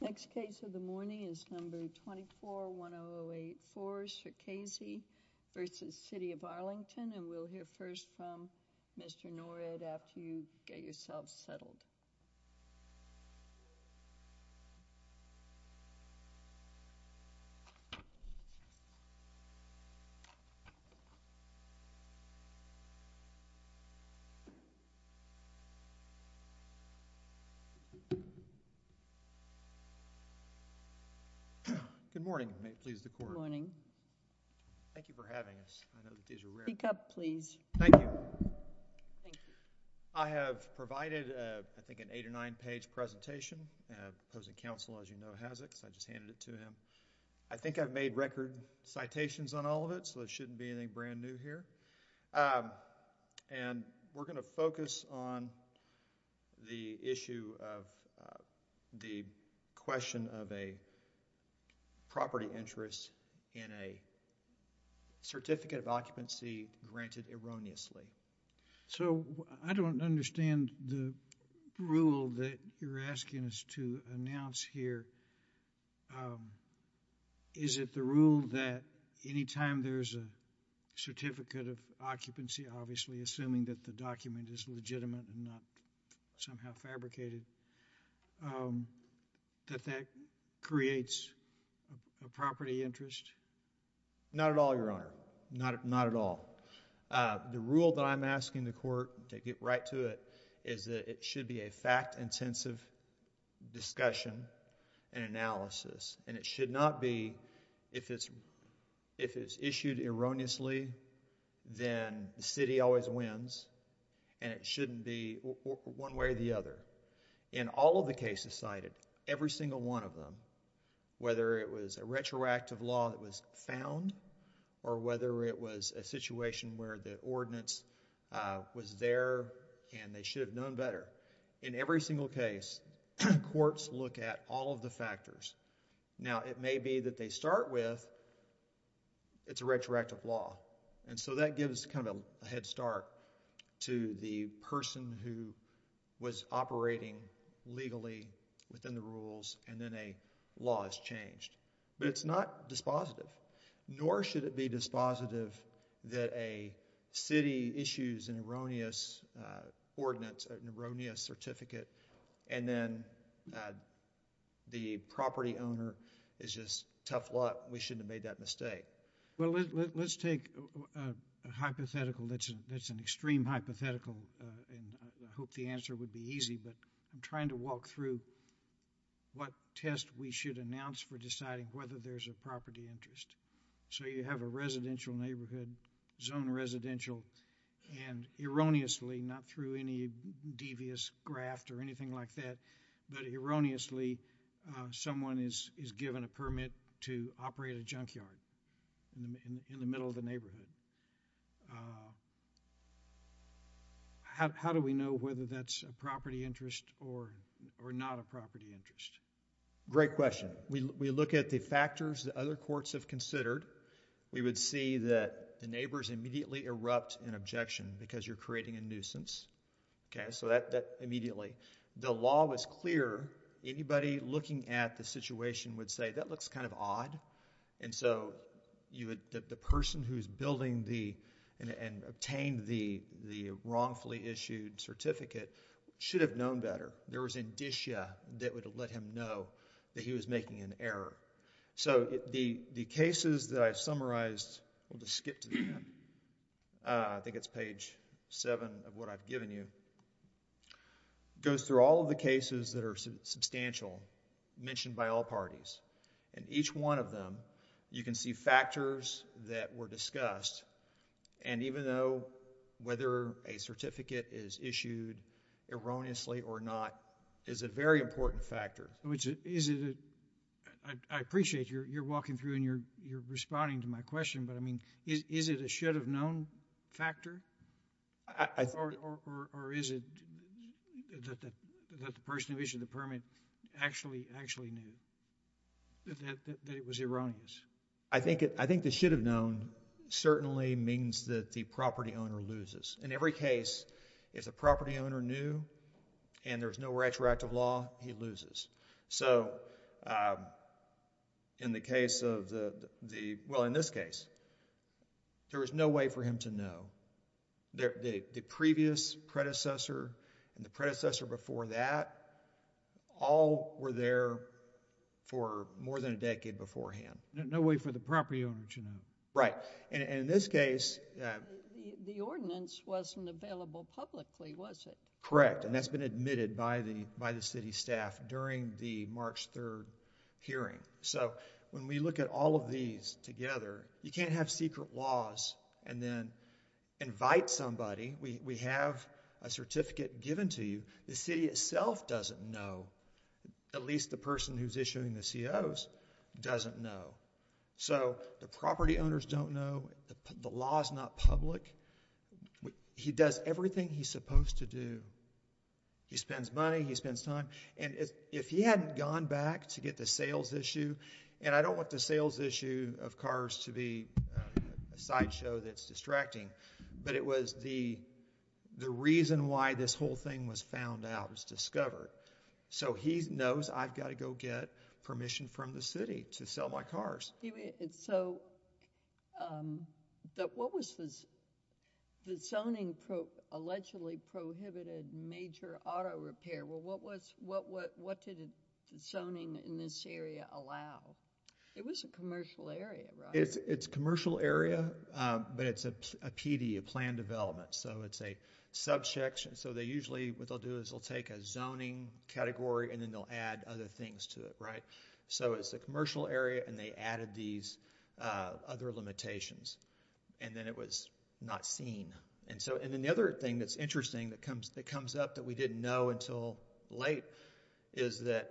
Next case of the morning is number 24-1008-4 Sherkezi v. City of Arlington and we'll hear first from Mr. Norred after you get yourselves settled. Good morning. May it please the Court. Good morning. Thank you for having us. Pick up please. Thank you. I have provided I think an eight or nine page presentation. Opposing counsel as you know has it. So I just handed it to him. I think I've made record citations on all of it. So it shouldn't be anything brand new here. And we're going to focus on the issue of the question of a property interest in a certificate of occupancy granted erroneously. So I don't understand the rule that you're asking us to announce here. Is it the rule that any time there's a certificate of occupancy obviously assuming that the document is legitimate and not somehow fabricated that that creates a property interest. Not at all Your Honor. Not not at all. The rule that I'm asking the court to get right to it is that it should be a fact intensive discussion and analysis and it should not be if it's if it's issued erroneously then the city always wins and it shouldn't be one way or the other. In all of the cases cited every single one of them whether it was a retroactive law that was found or whether it was a situation where the ordinance was there and they should have known better. In every single case courts look at all of the factors. Now it may be that they start with it's a retroactive law. And so that gives kind of a head start to the person who was operating legally within the rules and then a law is changed. But it's not dispositive nor should it be dispositive that a city issues an erroneous ordinance an erroneous certificate and then the property owner is just tough luck. We shouldn't have made that mistake. Well let's take a hypothetical that's an extreme hypothetical and I hope the answer would be easy but I'm trying to walk through what test we should announce for deciding whether there's a property interest. So you have a residential neighborhood zone residential and erroneously not through any devious graft or anything like that but erroneously someone is given a permit to operate a junkyard in the middle of the neighborhood. How do we know whether that's a property interest or not a property interest? Great question. We look at the factors that other courts have considered. We would see that the neighbors immediately erupt in objection because you're creating a nuisance. So that immediately the law was clear. Anybody looking at the situation would say that looks kind of odd. And so the person who's building and obtained the wrongfully issued certificate should have known better. There was indicia that would let him know that he was making an error. So the cases that I summarized, we'll just skip to that, I think it's page 7 of what I've given you, goes through all of the cases that are substantial mentioned by all parties. And each one of them you can see factors that were discussed and even though whether a certificate is issued erroneously or not is a very important factor. I appreciate you're walking through and you're responding to my question but I mean is it a should have known factor? Or is it that the person who issued the permit actually knew that it was erroneous? I think the should have known certainly means that the property owner loses. In every case, if the property owner knew and there's no retroactive law, he loses. So in the case of the... well in this case, there was no way for him to know. The previous predecessor and the predecessor before that all were there for more than a decade beforehand. No way for the property owner to know. Right. And in this case... The ordinance wasn't available publicly, was it? Correct. And that's been admitted by the city staff during the March 3rd hearing. So when we look at all of these together, you can't have secret laws and then invite somebody. We have a certificate given to you. The city itself doesn't know. At least the person who's issuing the COs doesn't know. So the property owners don't know. The law's not public. He does everything he's supposed to do. He spends money. He spends time. And if he hadn't gone back to get the sales issue... And I don't want the sales issue of cars to be a sideshow that's distracting. But it was the reason why this whole thing was found out, was discovered. So he knows I've got to go get permission from the city to sell my cars. So, what was this... The zoning allegedly prohibited major auto repair. Well, what did zoning in this area allow? It was a commercial area, right? It's a commercial area, but it's a PD, a planned development. So it's a subsection. So they usually, what they'll do is they'll take a zoning category and then they'll add other things to it, right? So it's a commercial area and they added these other limitations. And then it was not seen. And then the other thing that's interesting that comes up that we didn't know until late is that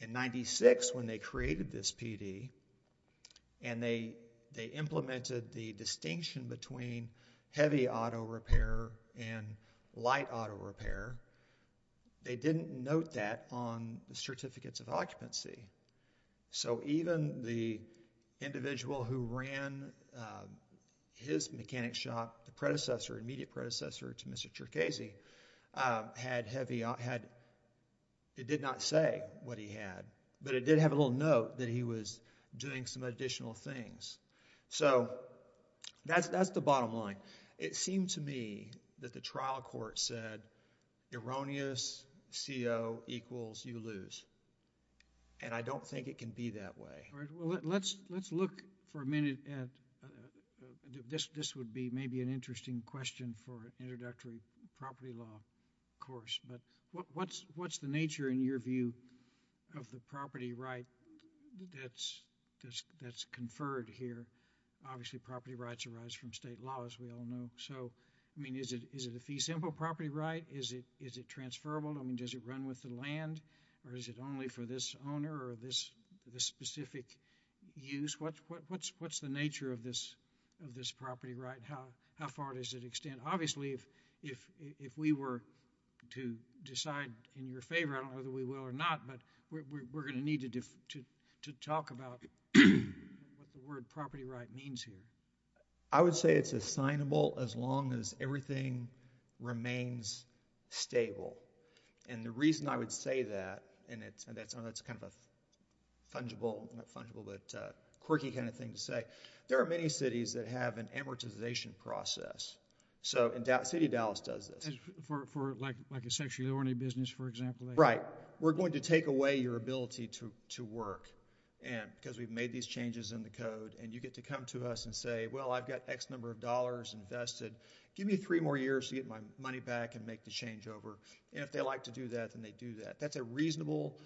in 96 when they created this PD and they implemented the distinction between heavy auto repair and light auto repair, they didn't note that on the certificates of occupancy. So even the individual who ran his mechanic shop, the predecessor, immediate predecessor to Mr. Cherkesey, had heavy... It did not say what he had. But it did have a little note that he was doing some additional things. So that's the bottom line. It seemed to me that the trial court said, erroneous CO equals you lose. And I don't think it can be that way. Well, let's look for a minute at... This would be maybe an interesting question for introductory property law course. But what's the nature in your view of the property right that's conferred here? Obviously, property rights arise from state law, as we all know. So, I mean, is it a fee-simple property right? Is it transferable? I mean, does it run with the land? Or is it only for this owner or this specific use? What's the nature of this property right? How far does it extend? Obviously, if we were to decide in your favor, I don't know whether we will or not, but we're going to need to talk about what the word property right means here. I would say it's assignable as long as everything remains stable. And the reason I would say that, and that's kind of a fungible, not fungible, but quirky kind of thing to say, is that there are many cities that have an amortization process. So City of Dallas does this. For like a sexually ornate business, for example? Right. We're going to take away your ability to work, because we've made these changes in the code. And you get to come to us and say, well, I've got X number of dollars invested. Give me three more years to get my money back and make the changeover. And if they like to do that, then they do that. That's a reasonable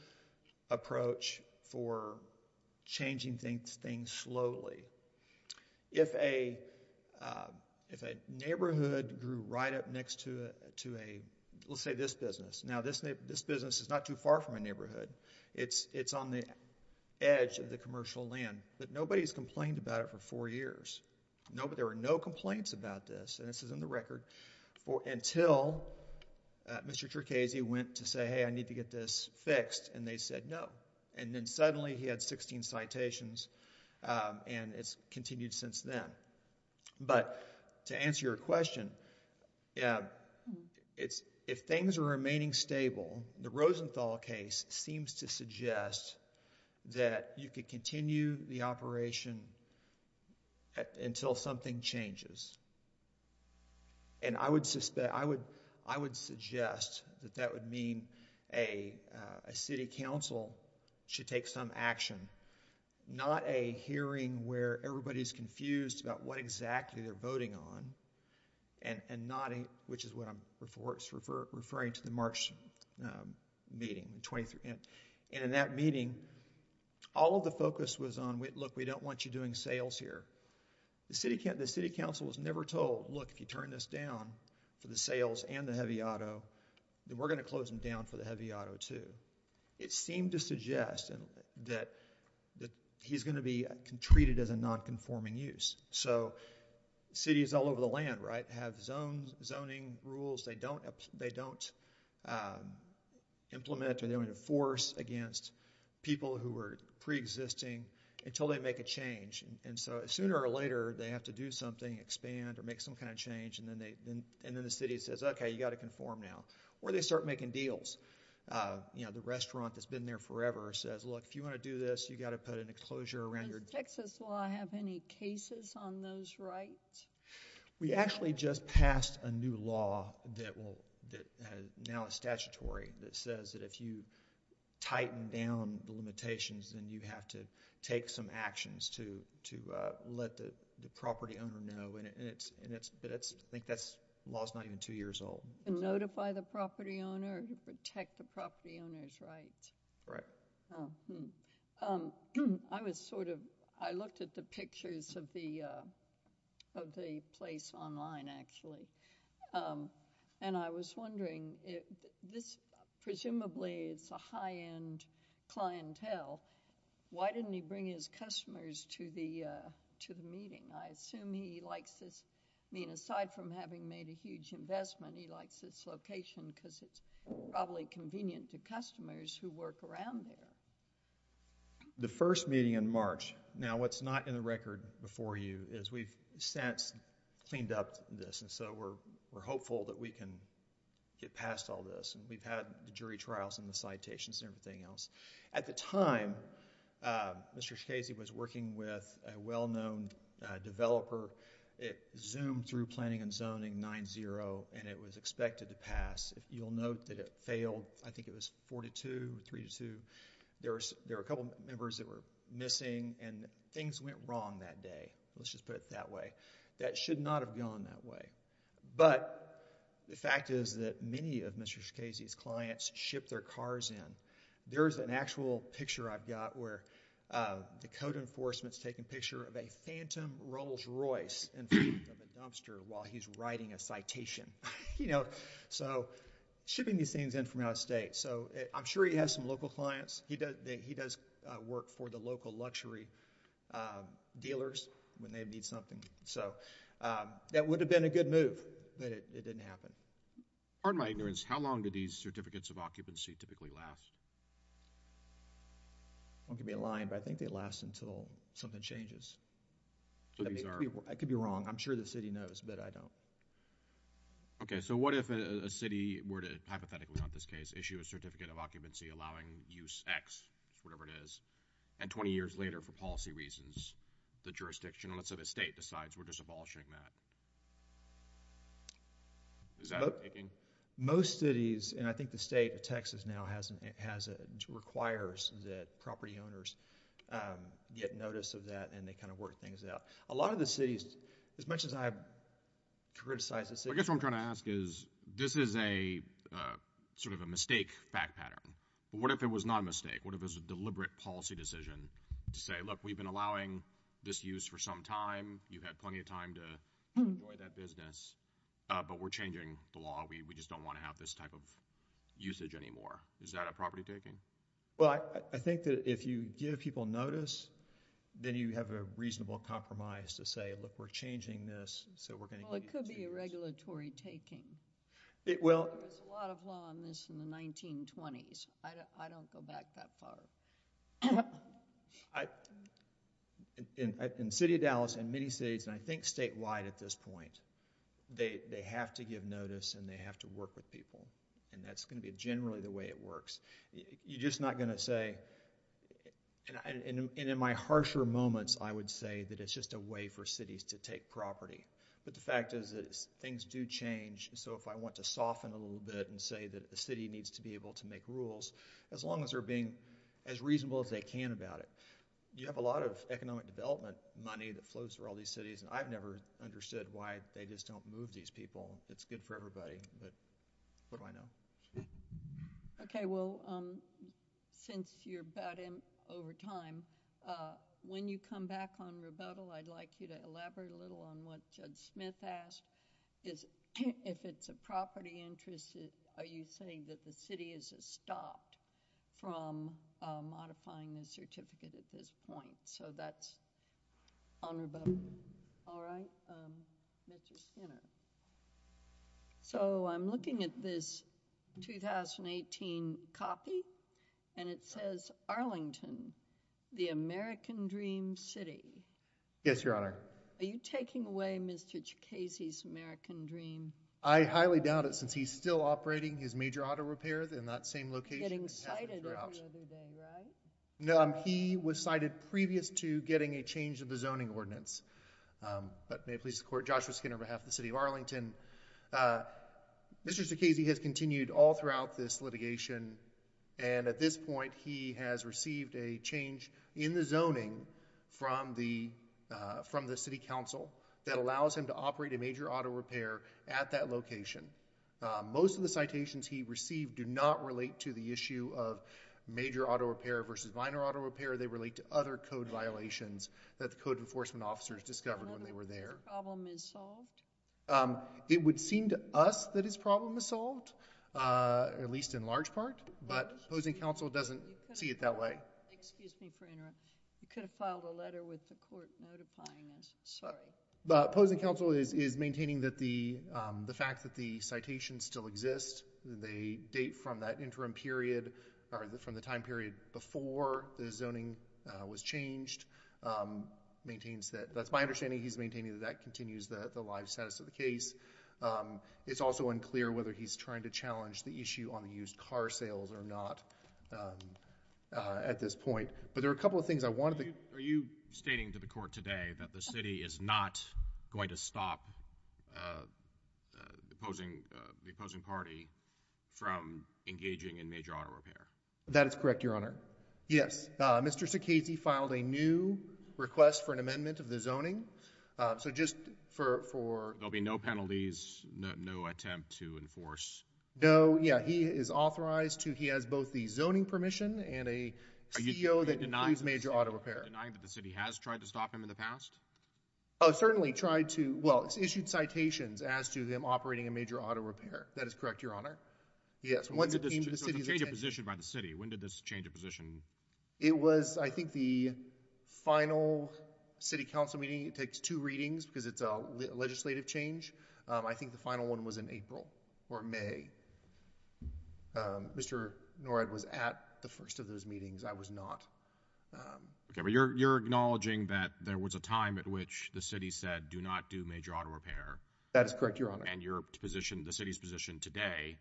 approach for changing things slowly. If a neighborhood grew right up next to a, let's say this business. Now, this business is not too far from a neighborhood. It's on the edge of the commercial land. But nobody has complained about it for four years. There were no complaints about this, and this is in the record, until Mr. Trichese went to say, hey, I need to get this fixed. And they said no. And then suddenly he had 16 citations, and it's continued since then. But to answer your question, if things are remaining stable, the Rosenthal case seems to suggest that you could continue the operation until something changes. And I would suggest that that would mean a city council should take some action, not a hearing where everybody's confused about what exactly they're voting on, and not a, which is what I'm referring to, the March meeting. And in that meeting, all of the focus was on, look, we don't want you doing sales here. The city council was never told, look, if you turn this down for the sales and the heavy auto, then we're going to close them down for the heavy auto too. It seemed to suggest that he's going to be treated as a nonconforming use. So cities all over the land, right, have zoning rules they don't implement or they don't enforce against people who are preexisting until they make a change. And so sooner or later, they have to do something, expand, or make some kind of change. And then the city says, okay, you've got to conform now. Or they start making deals. You know, the restaurant that's been there forever says, look, if you want to do this, you've got to put an enclosure around your door. Does Texas law have any cases on those rights? We actually just passed a new law that now is statutory that says that if you tighten down the limitations, then you have to take some actions to let the property owner know. And I think that law is not even two years old. Notify the property owner to protect the property owner's rights. Right. I looked at the pictures of the place online, actually, and I was wondering, presumably it's a high-end clientele. Why didn't he bring his customers to the meeting? I assume he likes this. I mean, aside from having made a huge investment, he likes this location because it's probably convenient to customers who work around there. The first meeting in March. Now, what's not in the record before you is we've since cleaned up this, and so we're hopeful that we can get past all this. And we've had the jury trials and the citations and everything else. At the time, Mr. Schaise was working with a well-known developer. It zoomed through Planning and Zoning 9-0, and it was expected to pass. You'll note that it failed. I think it was 4-2, 3-2. There were a couple members that were missing, and things went wrong that day, let's just put it that way. That should not have gone that way. But the fact is that many of Mr. Schaise's clients ship their cars in. There's an actual picture I've got where the code enforcement's taking a picture of a Phantom Rolls-Royce in front of a dumpster while he's writing a citation. So shipping these things in from out of state. I'm sure he has some local clients. He does work for the local luxury dealers when they need something. So that would have been a good move, but it didn't happen. Pardon my ignorance. How long do these certificates of occupancy typically last? I won't give you a line, but I think they last until something changes. I could be wrong. I'm sure the city knows, but I don't. Okay, so what if a city were to, hypothetically on this case, issue a certificate of occupancy allowing use X, whatever it is, and 20 years later, for policy reasons, the jurisdiction, let's say the state, decides we're just abolishing that. Is that what you're thinking? Most cities, and I think the state of Texas now requires that property owners get notice of that, and they kind of work things out. A lot of the cities, as much as I've criticized the city. I guess what I'm trying to ask is this is sort of a mistake fact pattern. What if it was not a mistake? What if it was a deliberate policy decision to say, look, we've been allowing this use for some time. You've had plenty of time to enjoy that business, but we're changing the law. We just don't want to have this type of usage anymore. Is that a property taking? Well, I think that if you give people notice, then you have a reasonable compromise to say, look, we're changing this. Well, it could be a regulatory taking. There was a lot of law on this in the 1920s. I don't go back that far. In the city of Dallas, in many cities, and I think statewide at this point, they have to give notice, and they have to work with people, and that's going to be generally the way it works. You're just not going to say, and in my harsher moments, I would say that it's just a way for cities to take property, but the fact is that things do change, so if I want to soften a little bit and say that a city needs to be able to make rules, as long as they're being as reasonable as they can about it. You have a lot of economic development money that flows through all these cities, and I've never understood why they just don't move these people. It's good for everybody, but what do I know? Okay, well, since you're about in over time, when you come back on rebuttal, I'd like you to elaborate a little on what Judge Smith asked, is if it's a property interest, are you saying that the city is stopped from modifying the certificate at this point? So that's on rebuttal. All right. So I'm looking at this 2018 copy, and it says Arlington, the American Dream City. Yes, Your Honor. Are you taking away Mr. Jokesy's American Dream? I highly doubt it since he's still operating his major auto repair in that same location. Getting cited every other day, right? No, he was cited previous to getting a change of the zoning ordinance, but may it please the court, Joshua Skinner on behalf of the city of Arlington. Mr. Jokesy has continued all throughout this litigation, and at this point, he has received a change in the zoning from the, from the city council that allows him to operate a major auto repair at that location. Most of the citations he received do not relate to the issue of major auto repair versus minor auto repair. They relate to other code violations that the code enforcement officers discovered when they were there. It would seem to us that his problem is solved, at least in large part, but opposing counsel doesn't see it that way. Excuse me for interrupting. You could have filed a letter with the court notifying us. But opposing counsel is, is maintaining that the, the fact that the citations still exist, they date from that interim period or from the time period before the zoning was changed maintains that that's my understanding. He's maintaining that that continues the live status of the case. Um, it's also unclear whether he's trying to challenge the issue on the used car sales or not, um, uh, at this point, but there are a couple of things I wanted to, are you stating to the court today that the city is not going to stop, uh, uh, opposing, uh, the opposing party from engaging in major auto repair? That is correct, Your Honor. Yes. Uh, Mr. Sakazy filed a new request for an amendment of the zoning. Uh, so just for, for there'll be no penalties, no, no attempt to enforce. No. Yeah. He is authorized to, he has both the zoning permission and a CEO that includes major auto repair denying that the city has tried to stop him in the past. Oh, certainly tried to, well, it's issued citations as to them operating a major auto repair. That is correct. Your Honor. Yes. When did this change of position by the city? When did this change of position? It was, I think the final city council meeting, it takes two readings because it's a legislative change. I think the final one was in April or May. Um, Mr. Norad was at the first of those meetings. I was not, um. Okay. But you're, you're acknowledging that there was a time at which the city said, do not do major auto repair. That is correct. Your Honor. And your position, the city's position today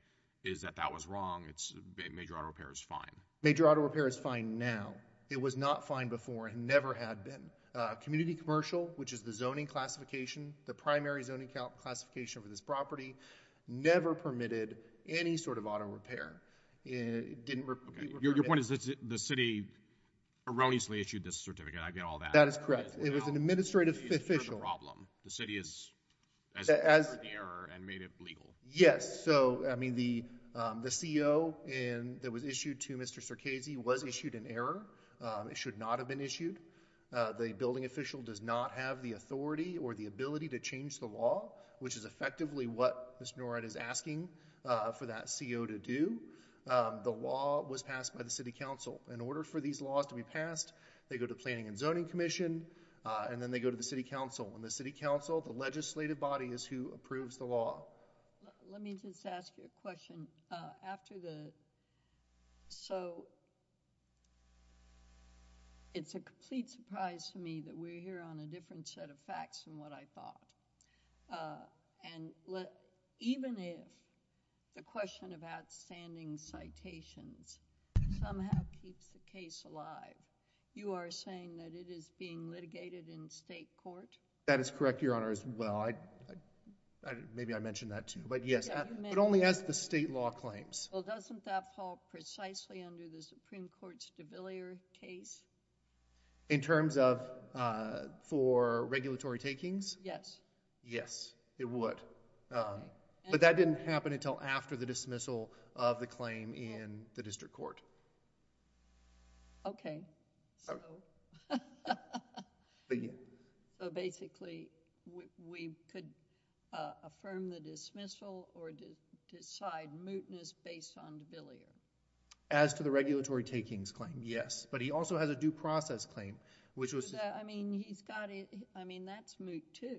is that that was wrong. It's major auto repair is fine. Major auto repair is fine now. It was not fine before. It never had been. Uh, community commercial, which is the zoning classification, the primary zoning calc classification for this property, never permitted any sort of auto repair. It didn't. Okay. Your point is that the city erroneously issued this certificate. I get all that. That is correct. It was an administrative official problem. The city is. As an error and made it legal. Yes. So, I mean, the, um, the CEO and that was issued to Mr. Circassian was issued an error. Um, it should not have been issued. Uh, the building official does not have the authority or the ability to change the law, which is effectively what Mr. Norred is asking, uh, for that CEO to do. Um, the law was passed by the city council in order for these laws to be passed. They go to planning and zoning commission. Uh, and then they go to the city council and the city council, the legislative body is who approves the law. Let me just ask you a question. Uh, after the, so. It's a complete surprise to me that we're here on a different set of facts than what I thought. and let, even if the question of outstanding citations somehow keeps the case alive, you are saying that it is being litigated in state court. That is correct. Your honor as well. I, I, maybe I mentioned that too, but yes, but only as the state law claims. Okay. regulatory. It would, um, but that didn't happen until after the dismissal of the claim in the district court. So, but yeah, we could, uh, affirm the dismissal or to decide mootness based on debilitating as to the regulatory. And so, it's a statutory takings claim. Yes. But he also has a due process claim which was, I mean, he's got it. I mean, that's moot too.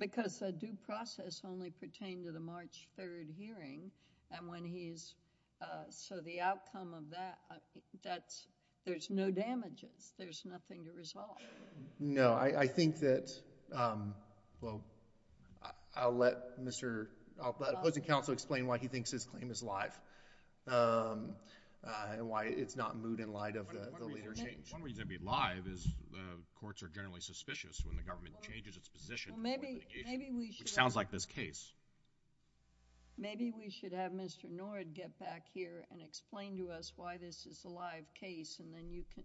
Because the due process only pertained to the March 3rd hearing. And when he's, uh, so the outcome of that, that's, there's no damages. There's nothing to resolve. No, I, I think that, um, well, I'll let Mr., I'll let opposing counsel explain why he thinks his claim is live. Um, uh, and why it's not moot in light of the, the leader change. One reason it'd be live is, uh, courts are generally suspicious when the government changes its position. Well, maybe, maybe we should. Which sounds like this case. Maybe we should have Mr. Nord get back here and explain to us why this is a live case. And then you can,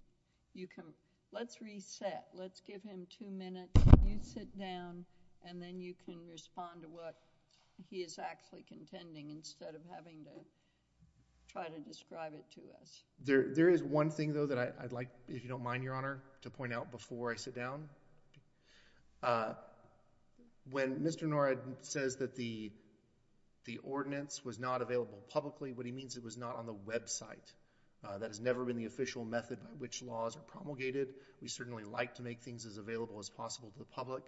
you can, let's reset. Let's give him two minutes. You sit down and then you can respond to what he is actually contending instead of having to try to describe it to us. there is one thing though that I, I'd like, if you don't mind, Your Honor, to point out before I sit down. Uh, when Mr. Nord says that the, the ordinance was not available publicly, what he means it was not on the website. Uh, that has never been the official method by which laws are promulgated. We certainly like to make things as available as possible to the public.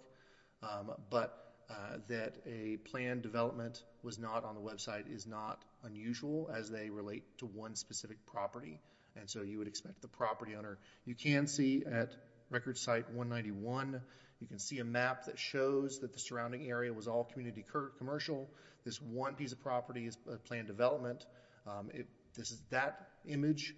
Um, but, uh, that a plan development was not on the website is not unusual as they relate to one specific property. And so you would expect the property owner. You can see at record site one 91, you can see a map that shows that the surrounding area was all community commercial. This one piece of property is planned development. Um, it, this is that image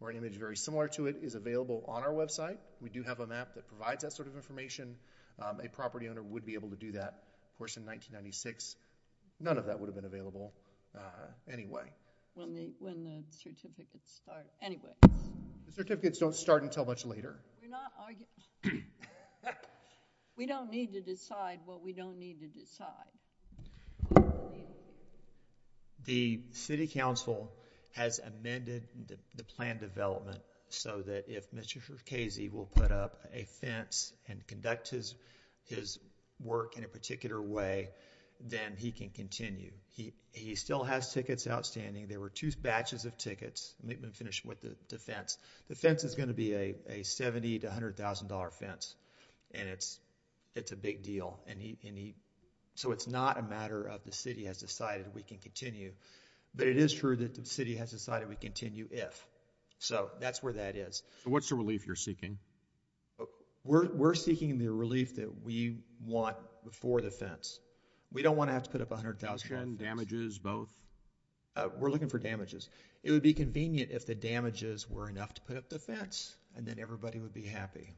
or an image very similar to it is available on our website. We do have a map that provides that sort of information. Um, a property owner would be able to do that. Of course, in 1996, none of that would have been available. Uh, anyway, when the, when the certificates start anyway, the certificates don't start until much later. We're not arguing. We don't need to decide what we don't need to decide. The city council has amended the plan development so that if Mr. Casey will put up a fence and conduct his, his work in a particular way, then he can continue. He, he still has tickets outstanding. There were two batches of tickets. Let me finish with the defense. The fence is going to be a, a 70 to a hundred thousand dollar fence. And it's, it's a big deal. And he, and he, so it's not a matter of the city has decided we can continue, but it is true that the city has decided we continue if, so that's where that is. So what's the relief you're seeking? We're, we're seeking the relief that we want before the fence. We don't want to have to put up a hundred thousand damages. Uh, we're looking for damages. It would be convenient if the damages were enough to put up the fence and then everybody would be happy.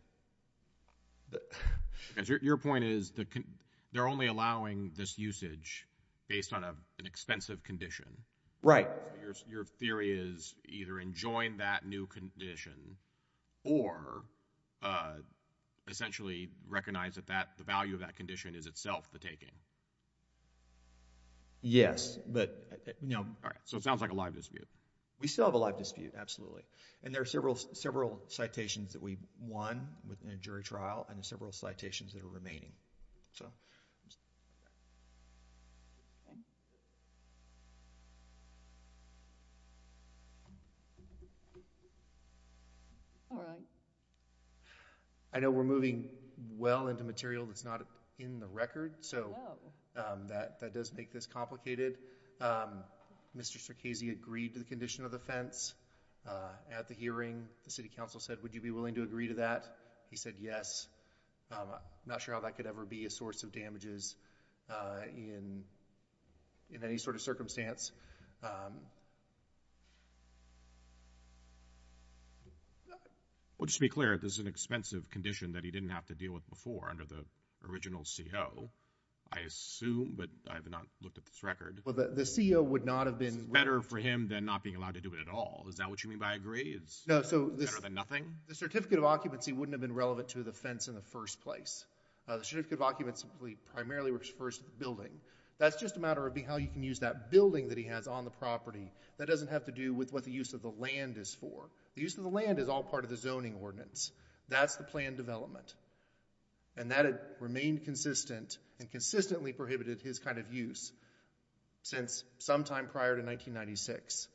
Your point is that they're only allowing this usage based on a, an expensive condition, right? Your theory is either enjoying that new condition or, uh, essentially recognize that that the value of that condition is itself the taking. Yes, but no. All right. So it sounds like a live dispute. We still have a live dispute. And there are several, several citations that we won within a jury trial and the several citations that are remaining. All right. I know we're moving well into material that's not in the record. um, that, that does make this complicated. Um, Mr. Casey agreed to the condition of the fence, uh, at the hearing, the city council said, would you be willing to agree to that? He said, yes. Um, I'm not sure how that could ever be a source of damages, uh, in, in any sort of circumstance. well, just to be clear, this is an expensive condition that he didn't have to deal with before under the original CEO, I assume, but I have not looked at this record. Well, the CEO would not have been better for him than not being allowed to do it at all. Is that what you mean by agree? It's better than nothing. The certificate of occupancy wouldn't have been relevant to the fence in the first place. Uh, the certificate of occupancy primarily works first building. That's just a matter of being, how you can use that building that he has on the property. That doesn't have to do with what the use of the land is for. The use of the land is all part of the zoning ordinance. That's the plan development. And that had remained consistent and consistently prohibited his kind of use. Since sometime prior to 1996.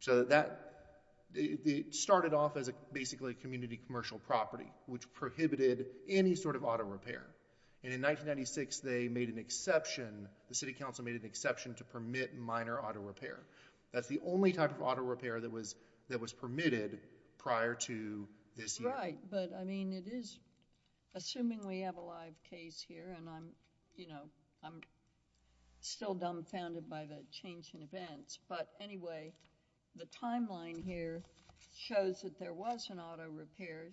so that. The started off as a basically community commercial property, which prohibited any sort of auto repair. And in 1996, they made an exception. The city council made an exception to permit minor auto repair. That's the only type of auto repair that was, that was permitted prior to this. Right. But I mean, it is assuming we have a live case here and I'm, you know, I'm still dumbfounded by the change in events, but anyway, the timeline here shows that there was an auto repair.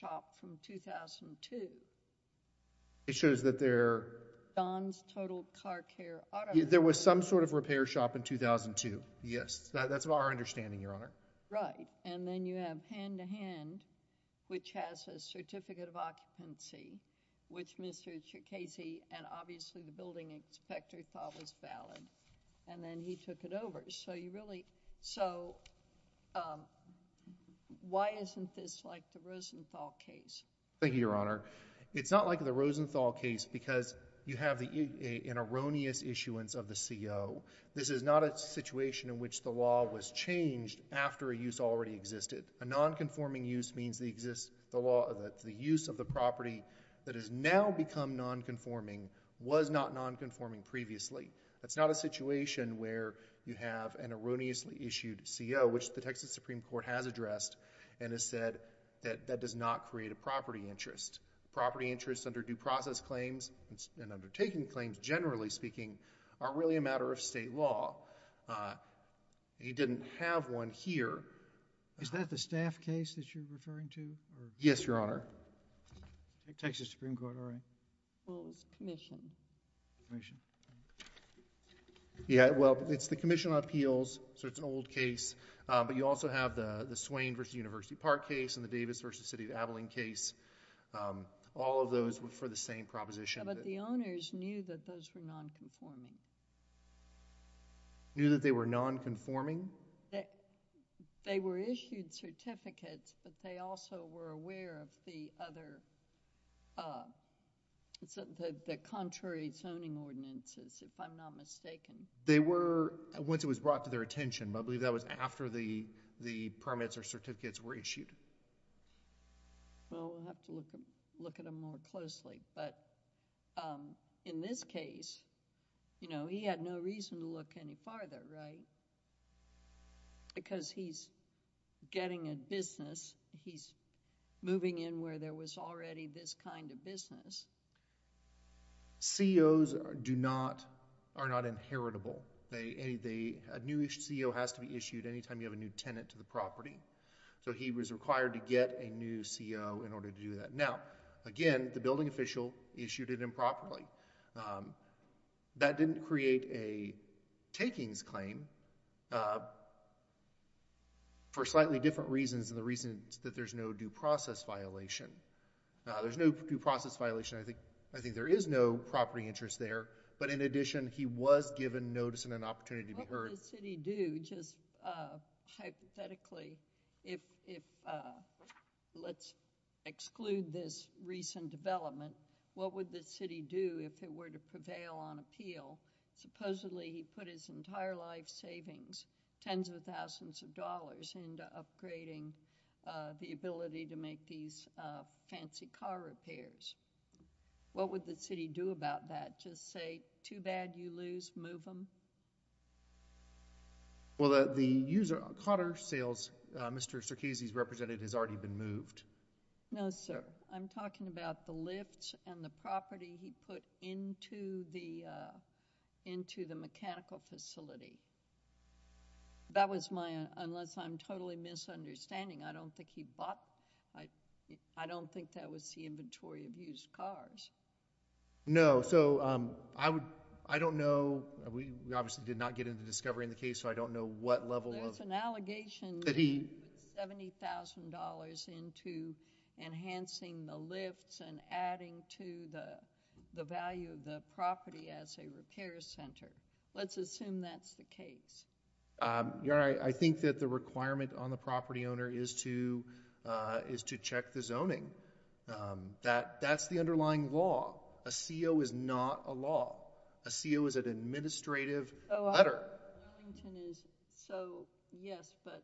Shop from 2002. It shows that they're Don's total car care. There was some sort of repair shop in 2002. Yes. That's our understanding your honor. Right. And then you have hand to hand, which has a certificate of occupancy, which Mr. Casey, and obviously the building inspector thought was valid. And then he took it over. So you really, so, um, why isn't this like the Rosenthal case? Thank you, your honor. It's not like the Rosenthal case because you have the, uh, an erroneous issuance of the CEO. This is not a situation in which the law was changed after a use already existed. A nonconforming use means the exists, the law of the, the use of the property that has now become nonconforming was not nonconforming previously. That's not a situation where you have an erroneously issued CEO, which the Texas Supreme court has addressed and has said that that does not create a property interest property interest under due process claims and undertaking claims. Generally speaking are really a matter of state law. Uh, he didn't have one here. Is that the staff case that you're referring to? Yes, your honor. Texas Supreme court. Well, it was commission. Yeah. Well, it's the commission on appeals. So it's an old case. Uh, but you also have the, the Swain versus university park case and the Davis versus city of Abilene case. Um, all of those were for the same proposition. But the owners knew that those were nonconforming. Knew that they were nonconforming. They were issued certificates, but they also were aware of the other, the, the contrary zoning ordinances, if I'm not mistaken, they were once it was brought to their attention, but I believe that was after the, the permits or certificates were issued. Well, we'll have to look at, look at them more closely, but, um, in this case, you know, he had no reason to look any farther, right? Because he's getting a business. He's moving in where there was already this kind of business. CEOs are, do not, are not inheritable. a new CEO has to be issued anytime you have a new tenant to the So he was required to get a new CEO in order to do that. Now, again, the building official issued it improperly, um, that didn't create a takings claim, uh, for slightly different reasons. And the reason is that there's no due process violation. Now there's no due process violation. I think, I think there is no property interest there, but in addition, he was given notice and an opportunity to be heard. uh, hypothetically, if, if, uh, let's exclude this recent development, what would the city do if it were to prevail on appeal? Supposedly he put his entire life savings, tens of thousands of dollars into upgrading, uh, the ability to make these, uh, fancy car repairs. What would the city do about that? Just say too bad you lose, move them. Well, the user cotter sales, uh, Mr. Circassians represented has already been moved. No, sir. I'm talking about the lifts and the property he put into the, uh, into the mechanical facility. That was my, unless I'm totally misunderstanding. I don't think he bought. I don't think that was the inventory of used cars. No. So, um, I would, I don't know. We obviously did not get into discovery in the case, so I don't know what level of an allegation that he $70,000 into enhancing the lifts and adding to the, the value of the property as a repair center. Let's assume that's the case. Um, you're right. I think that the requirement on the property owner is to, uh, is to check the zoning, um, that that's the underlying law. A CEO is not a law. A CEO is an administrative letter. So yes, but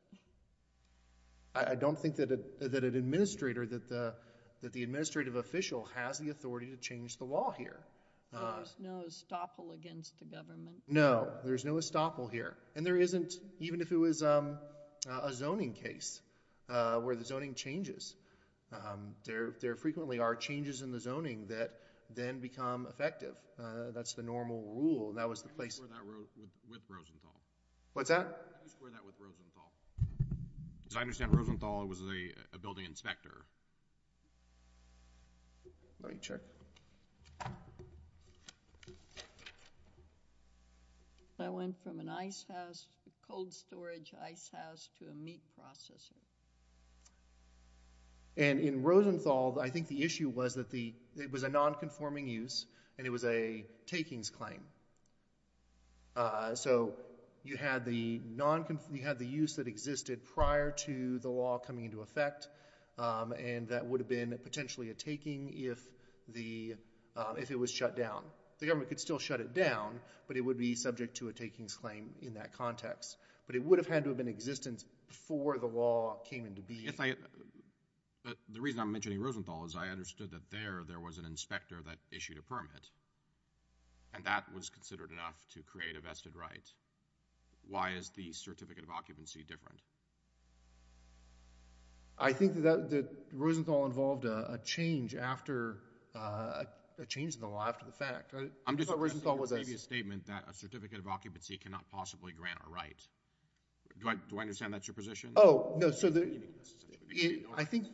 I don't think that, uh, that an administrator, that the, that the administrative official has the authority to change the law here. There's no estoppel against the government. No, there's no estoppel here. And there isn't, even if it was, um, a zoning case, uh, where the zoning changes, um, there, there frequently are changes in the zoning that then become effective. Uh, that's the normal rule. That was the place. What's that? Because I understand Rosenthal was a building inspector. Let me check. So I went from an ice house, cold storage ice house to a meat processor. And in Rosenthal, I think the issue was that the, it was a nonconforming use and it was a takings claim. Uh, so you had the non, you had the use that existed prior to the law coming into effect. Um, and that would have been potentially a taking if the, uh, if it was shut down, the government could still shut it down, but it would be subject to a takings claim in that context. But it would have had to have been existence before the law came into being. If I, but the reason I'm mentioning Rosenthal is I understood that there, there was an inspector that issued a permit and that was considered enough to create a vested right. Why is the certificate of occupancy different? I think that, that Rosenthal involved a change after, uh, a change in the law, after the fact. I'm just addressing your previous statement that a certificate of occupancy cannot possibly grant a right. Do I, do I understand that's your position? Oh, no, so the, I think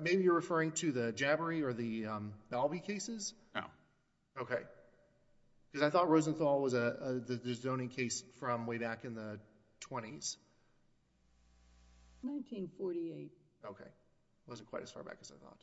maybe you're referring to the Jabbery or the, um, Balby cases? No. Okay. Because I thought Rosenthal was a, a, the zoning case from way back in the twenties. 1948. Okay. It wasn't quite as far back as I thought.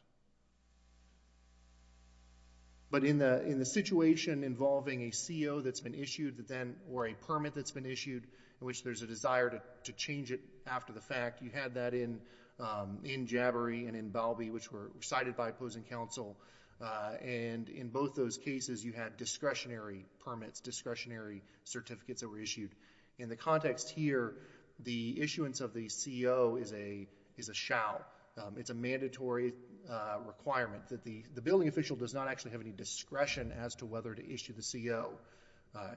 But in the, in the situation involving a CEO that's been issued that then, or a permit that's been issued in which there's a desire to, to change it after the fact, you had that in, um, in Jabbery and in Balby, which were cited by opposing counsel. Uh, and in both those cases, you had discretionary permits, discretionary certificates that were issued in the context here. The issuance of the CEO is a, is a shout. Um, it's a mandatory, uh, requirement that the, the billing official does not actually have any discretion as to whether to issue the CEO. Uh,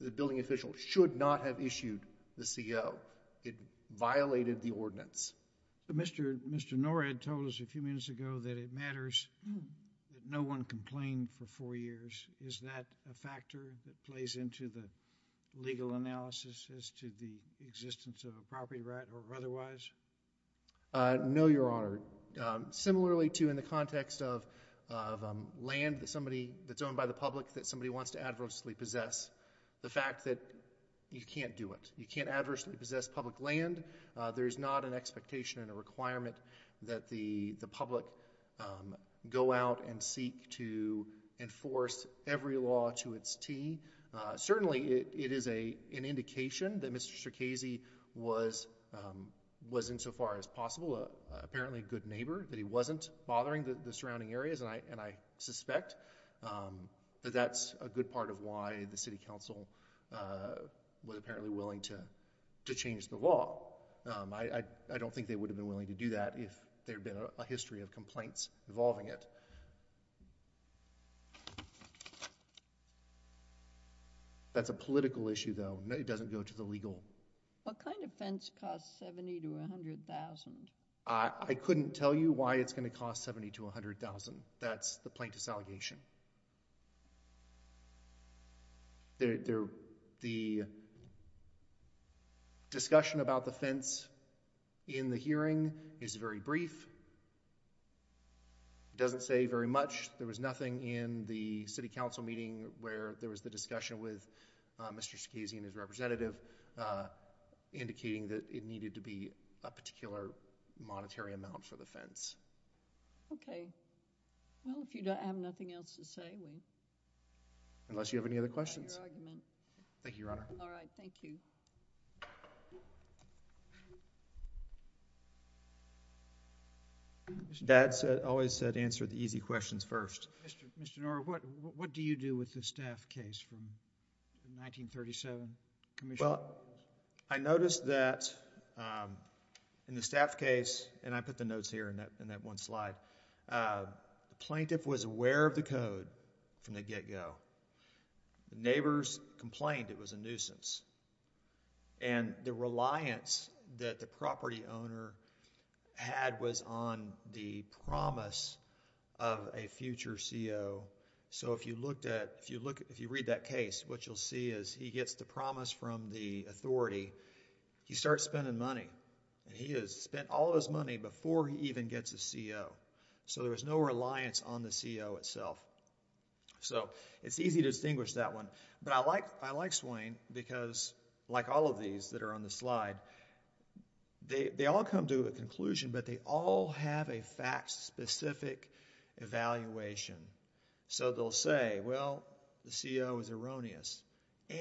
the billing official should not have issued the CEO. It violated the ordinance. But Mr., Mr. Norhead told us a few minutes ago that it matters that no one complained for four years. Is that a factor that plays into the legal analysis as to the existence of a property right or otherwise? Uh, no, no, Your Honor. Um, similarly to in the context of, of, um, land that somebody that's owned by the public, that somebody wants to adversely possess the fact that you can't do it. You can't adversely possess public land. Uh, there is not an expectation and a requirement that the, the public, go out and seek to enforce every law to its T. Uh, certainly it, it is a, an indication that Mr. Circasi was, um, was in so far as possible. Uh, apparently a good neighbor that he wasn't bothering the, the surrounding areas. And I, and I suspect, um, that that's a good part of why the city council, uh, was apparently willing to, to change the law. Um, I, I don't think they would have been willing to do that if there had been a history of complaints involving it. That's a political issue though. It doesn't go to the legal. What kind of fence costs 70 to a hundred thousand? I couldn't tell you why it's going to cost 70 to a hundred thousand. That's the plaintiff's allegation. There, there, the discussion about the fence in the hearing is very brief. It doesn't say very much. There was nothing in the city council meeting where there was the discussion with, uh, Mr. Scazi and his representative, uh, indicating that it needed to be a particular monetary amount for the fence. Okay. Well, if you don't have nothing else to say, we... Unless you have any other questions.... about your argument. Thank you, Your Honor. All right. Thank you. Mr.... Dad said, always said answer the easy questions first. Mr.... Mr. Norah, what, what do you do with the staff case from the 1937 commission? Well, I noticed that, um, in the staff case, and I put the notes here in that, in that one slide, uh, the plaintiff was aware of the code from the get go. The neighbors complained it was a nuisance. And the reliance that the property owner had was on the promise of a future CO. So, if you looked at, if you look, if you read that case, what you'll see is he gets the promise from the authority. He starts spending money. And he has spent all of his money before he even gets a CO. So, there was no reliance on the CO itself. So, it's easy to distinguish that one. But I like, I like Swain because, like all of these that are on the slide, they, they all come to a conclusion, but they all have a fact specific evaluation. So, they'll say, the CO is erroneous.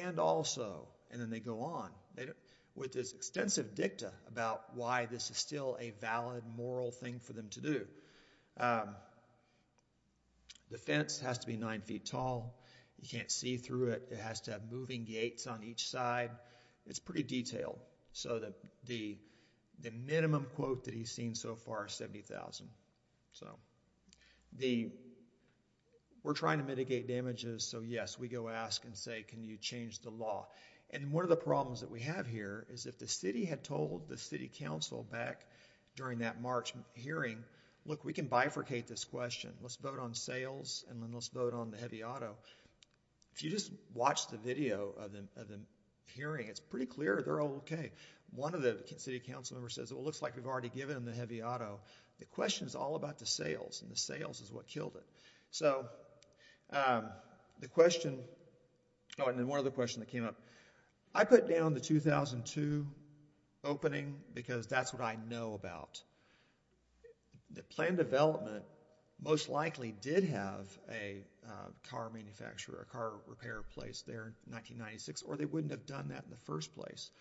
And also, and then they go on, with this extensive dicta about why this is still a valid, moral thing for them to do. Um, the fence has to be nine feet tall. You can't see through it. It has to have moving gates on each side. It's pretty detailed. So, the, the minimum quote that he's seen so far is 70,000. So, the, we're trying to mitigate damages. So, yes, we go ask and say, can you change the law? And one of the problems that we have here is, if the city had told the city council back during that March hearing, look, we can bifurcate this question. Let's vote on sales. And then let's vote on the heavy auto. If you just watch the video of the, of the hearing, it's pretty clear. They're okay. One of the city council member says, well, it looks like we've already given them the heavy auto. The question is all about the sales and the sales is what killed it. So, the question, oh, and then one other question that came up. I put down the 2002 opening because that's what I know about. The planned development most likely did have a car manufacturer, a car repair place there in 1996, or they wouldn't have done that in the first place.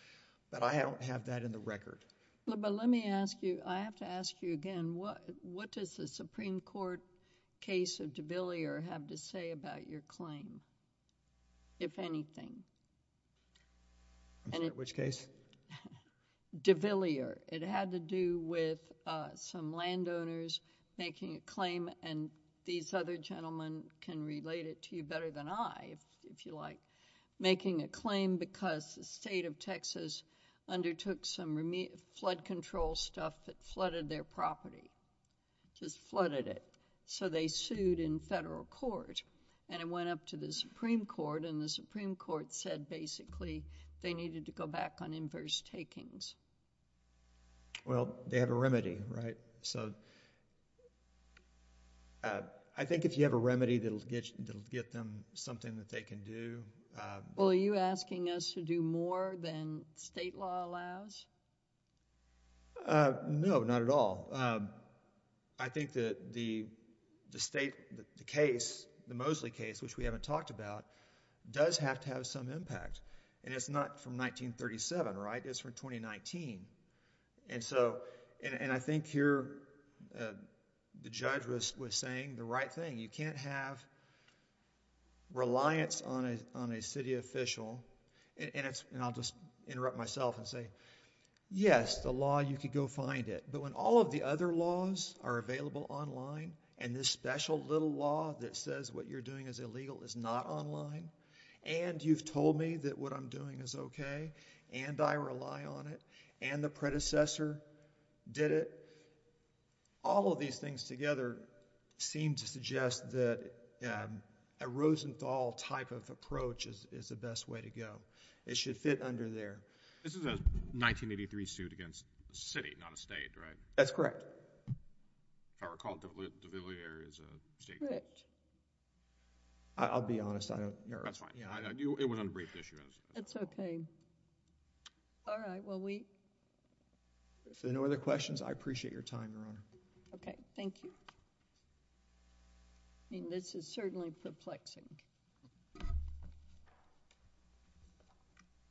But I don't have that in the record. But let me ask you, I have to ask you again, what does the Supreme Court case of DeVillier have to say about your if anything? I'm sorry, which case? DeVillier. It had to do with some landowners making a claim, and these other gentlemen can relate it to you better than I, if you like, making a claim because the state of Texas undertook some flood control stuff that flooded their property, just flooded it. So, they sued in federal court, and it went up to the Supreme Court, and the Supreme Court said basically they needed to go back on inverse takings. Well, they have a remedy, right? So, I think if you have a remedy, that'll get them something that they can do. Well, are you asking us to do more than state law allows? No, not at all. I think that the state, the case, the Mosley case, which we haven't talked about, does have to have some impact. And it's not from 1937, right? It's from 2019. And so, and I think here the judge was saying the right thing. You can't have reliance on a city official, and I'll just interrupt myself and say, yes, the law, you could go find it. But when all of the other laws are available online, and this special little law that says what you're doing is illegal is not online, and you've told me that what I'm doing is okay, and I rely on it, and the predecessor did it, all of these things together seem to suggest that a Rosenthal type of approach is the best way to go. It should fit under there. This is a 1983 suit against the city, not a state, right? That's correct. If I recall, De Villiers is a state court. Correct. I'll be honest, I don't know. That's fine. It was on a brief issue. It's okay. All right. Well, we. If there are no other questions, I appreciate your time, Your Honor. Okay. Thank you. I mean, this is certainly perplexing.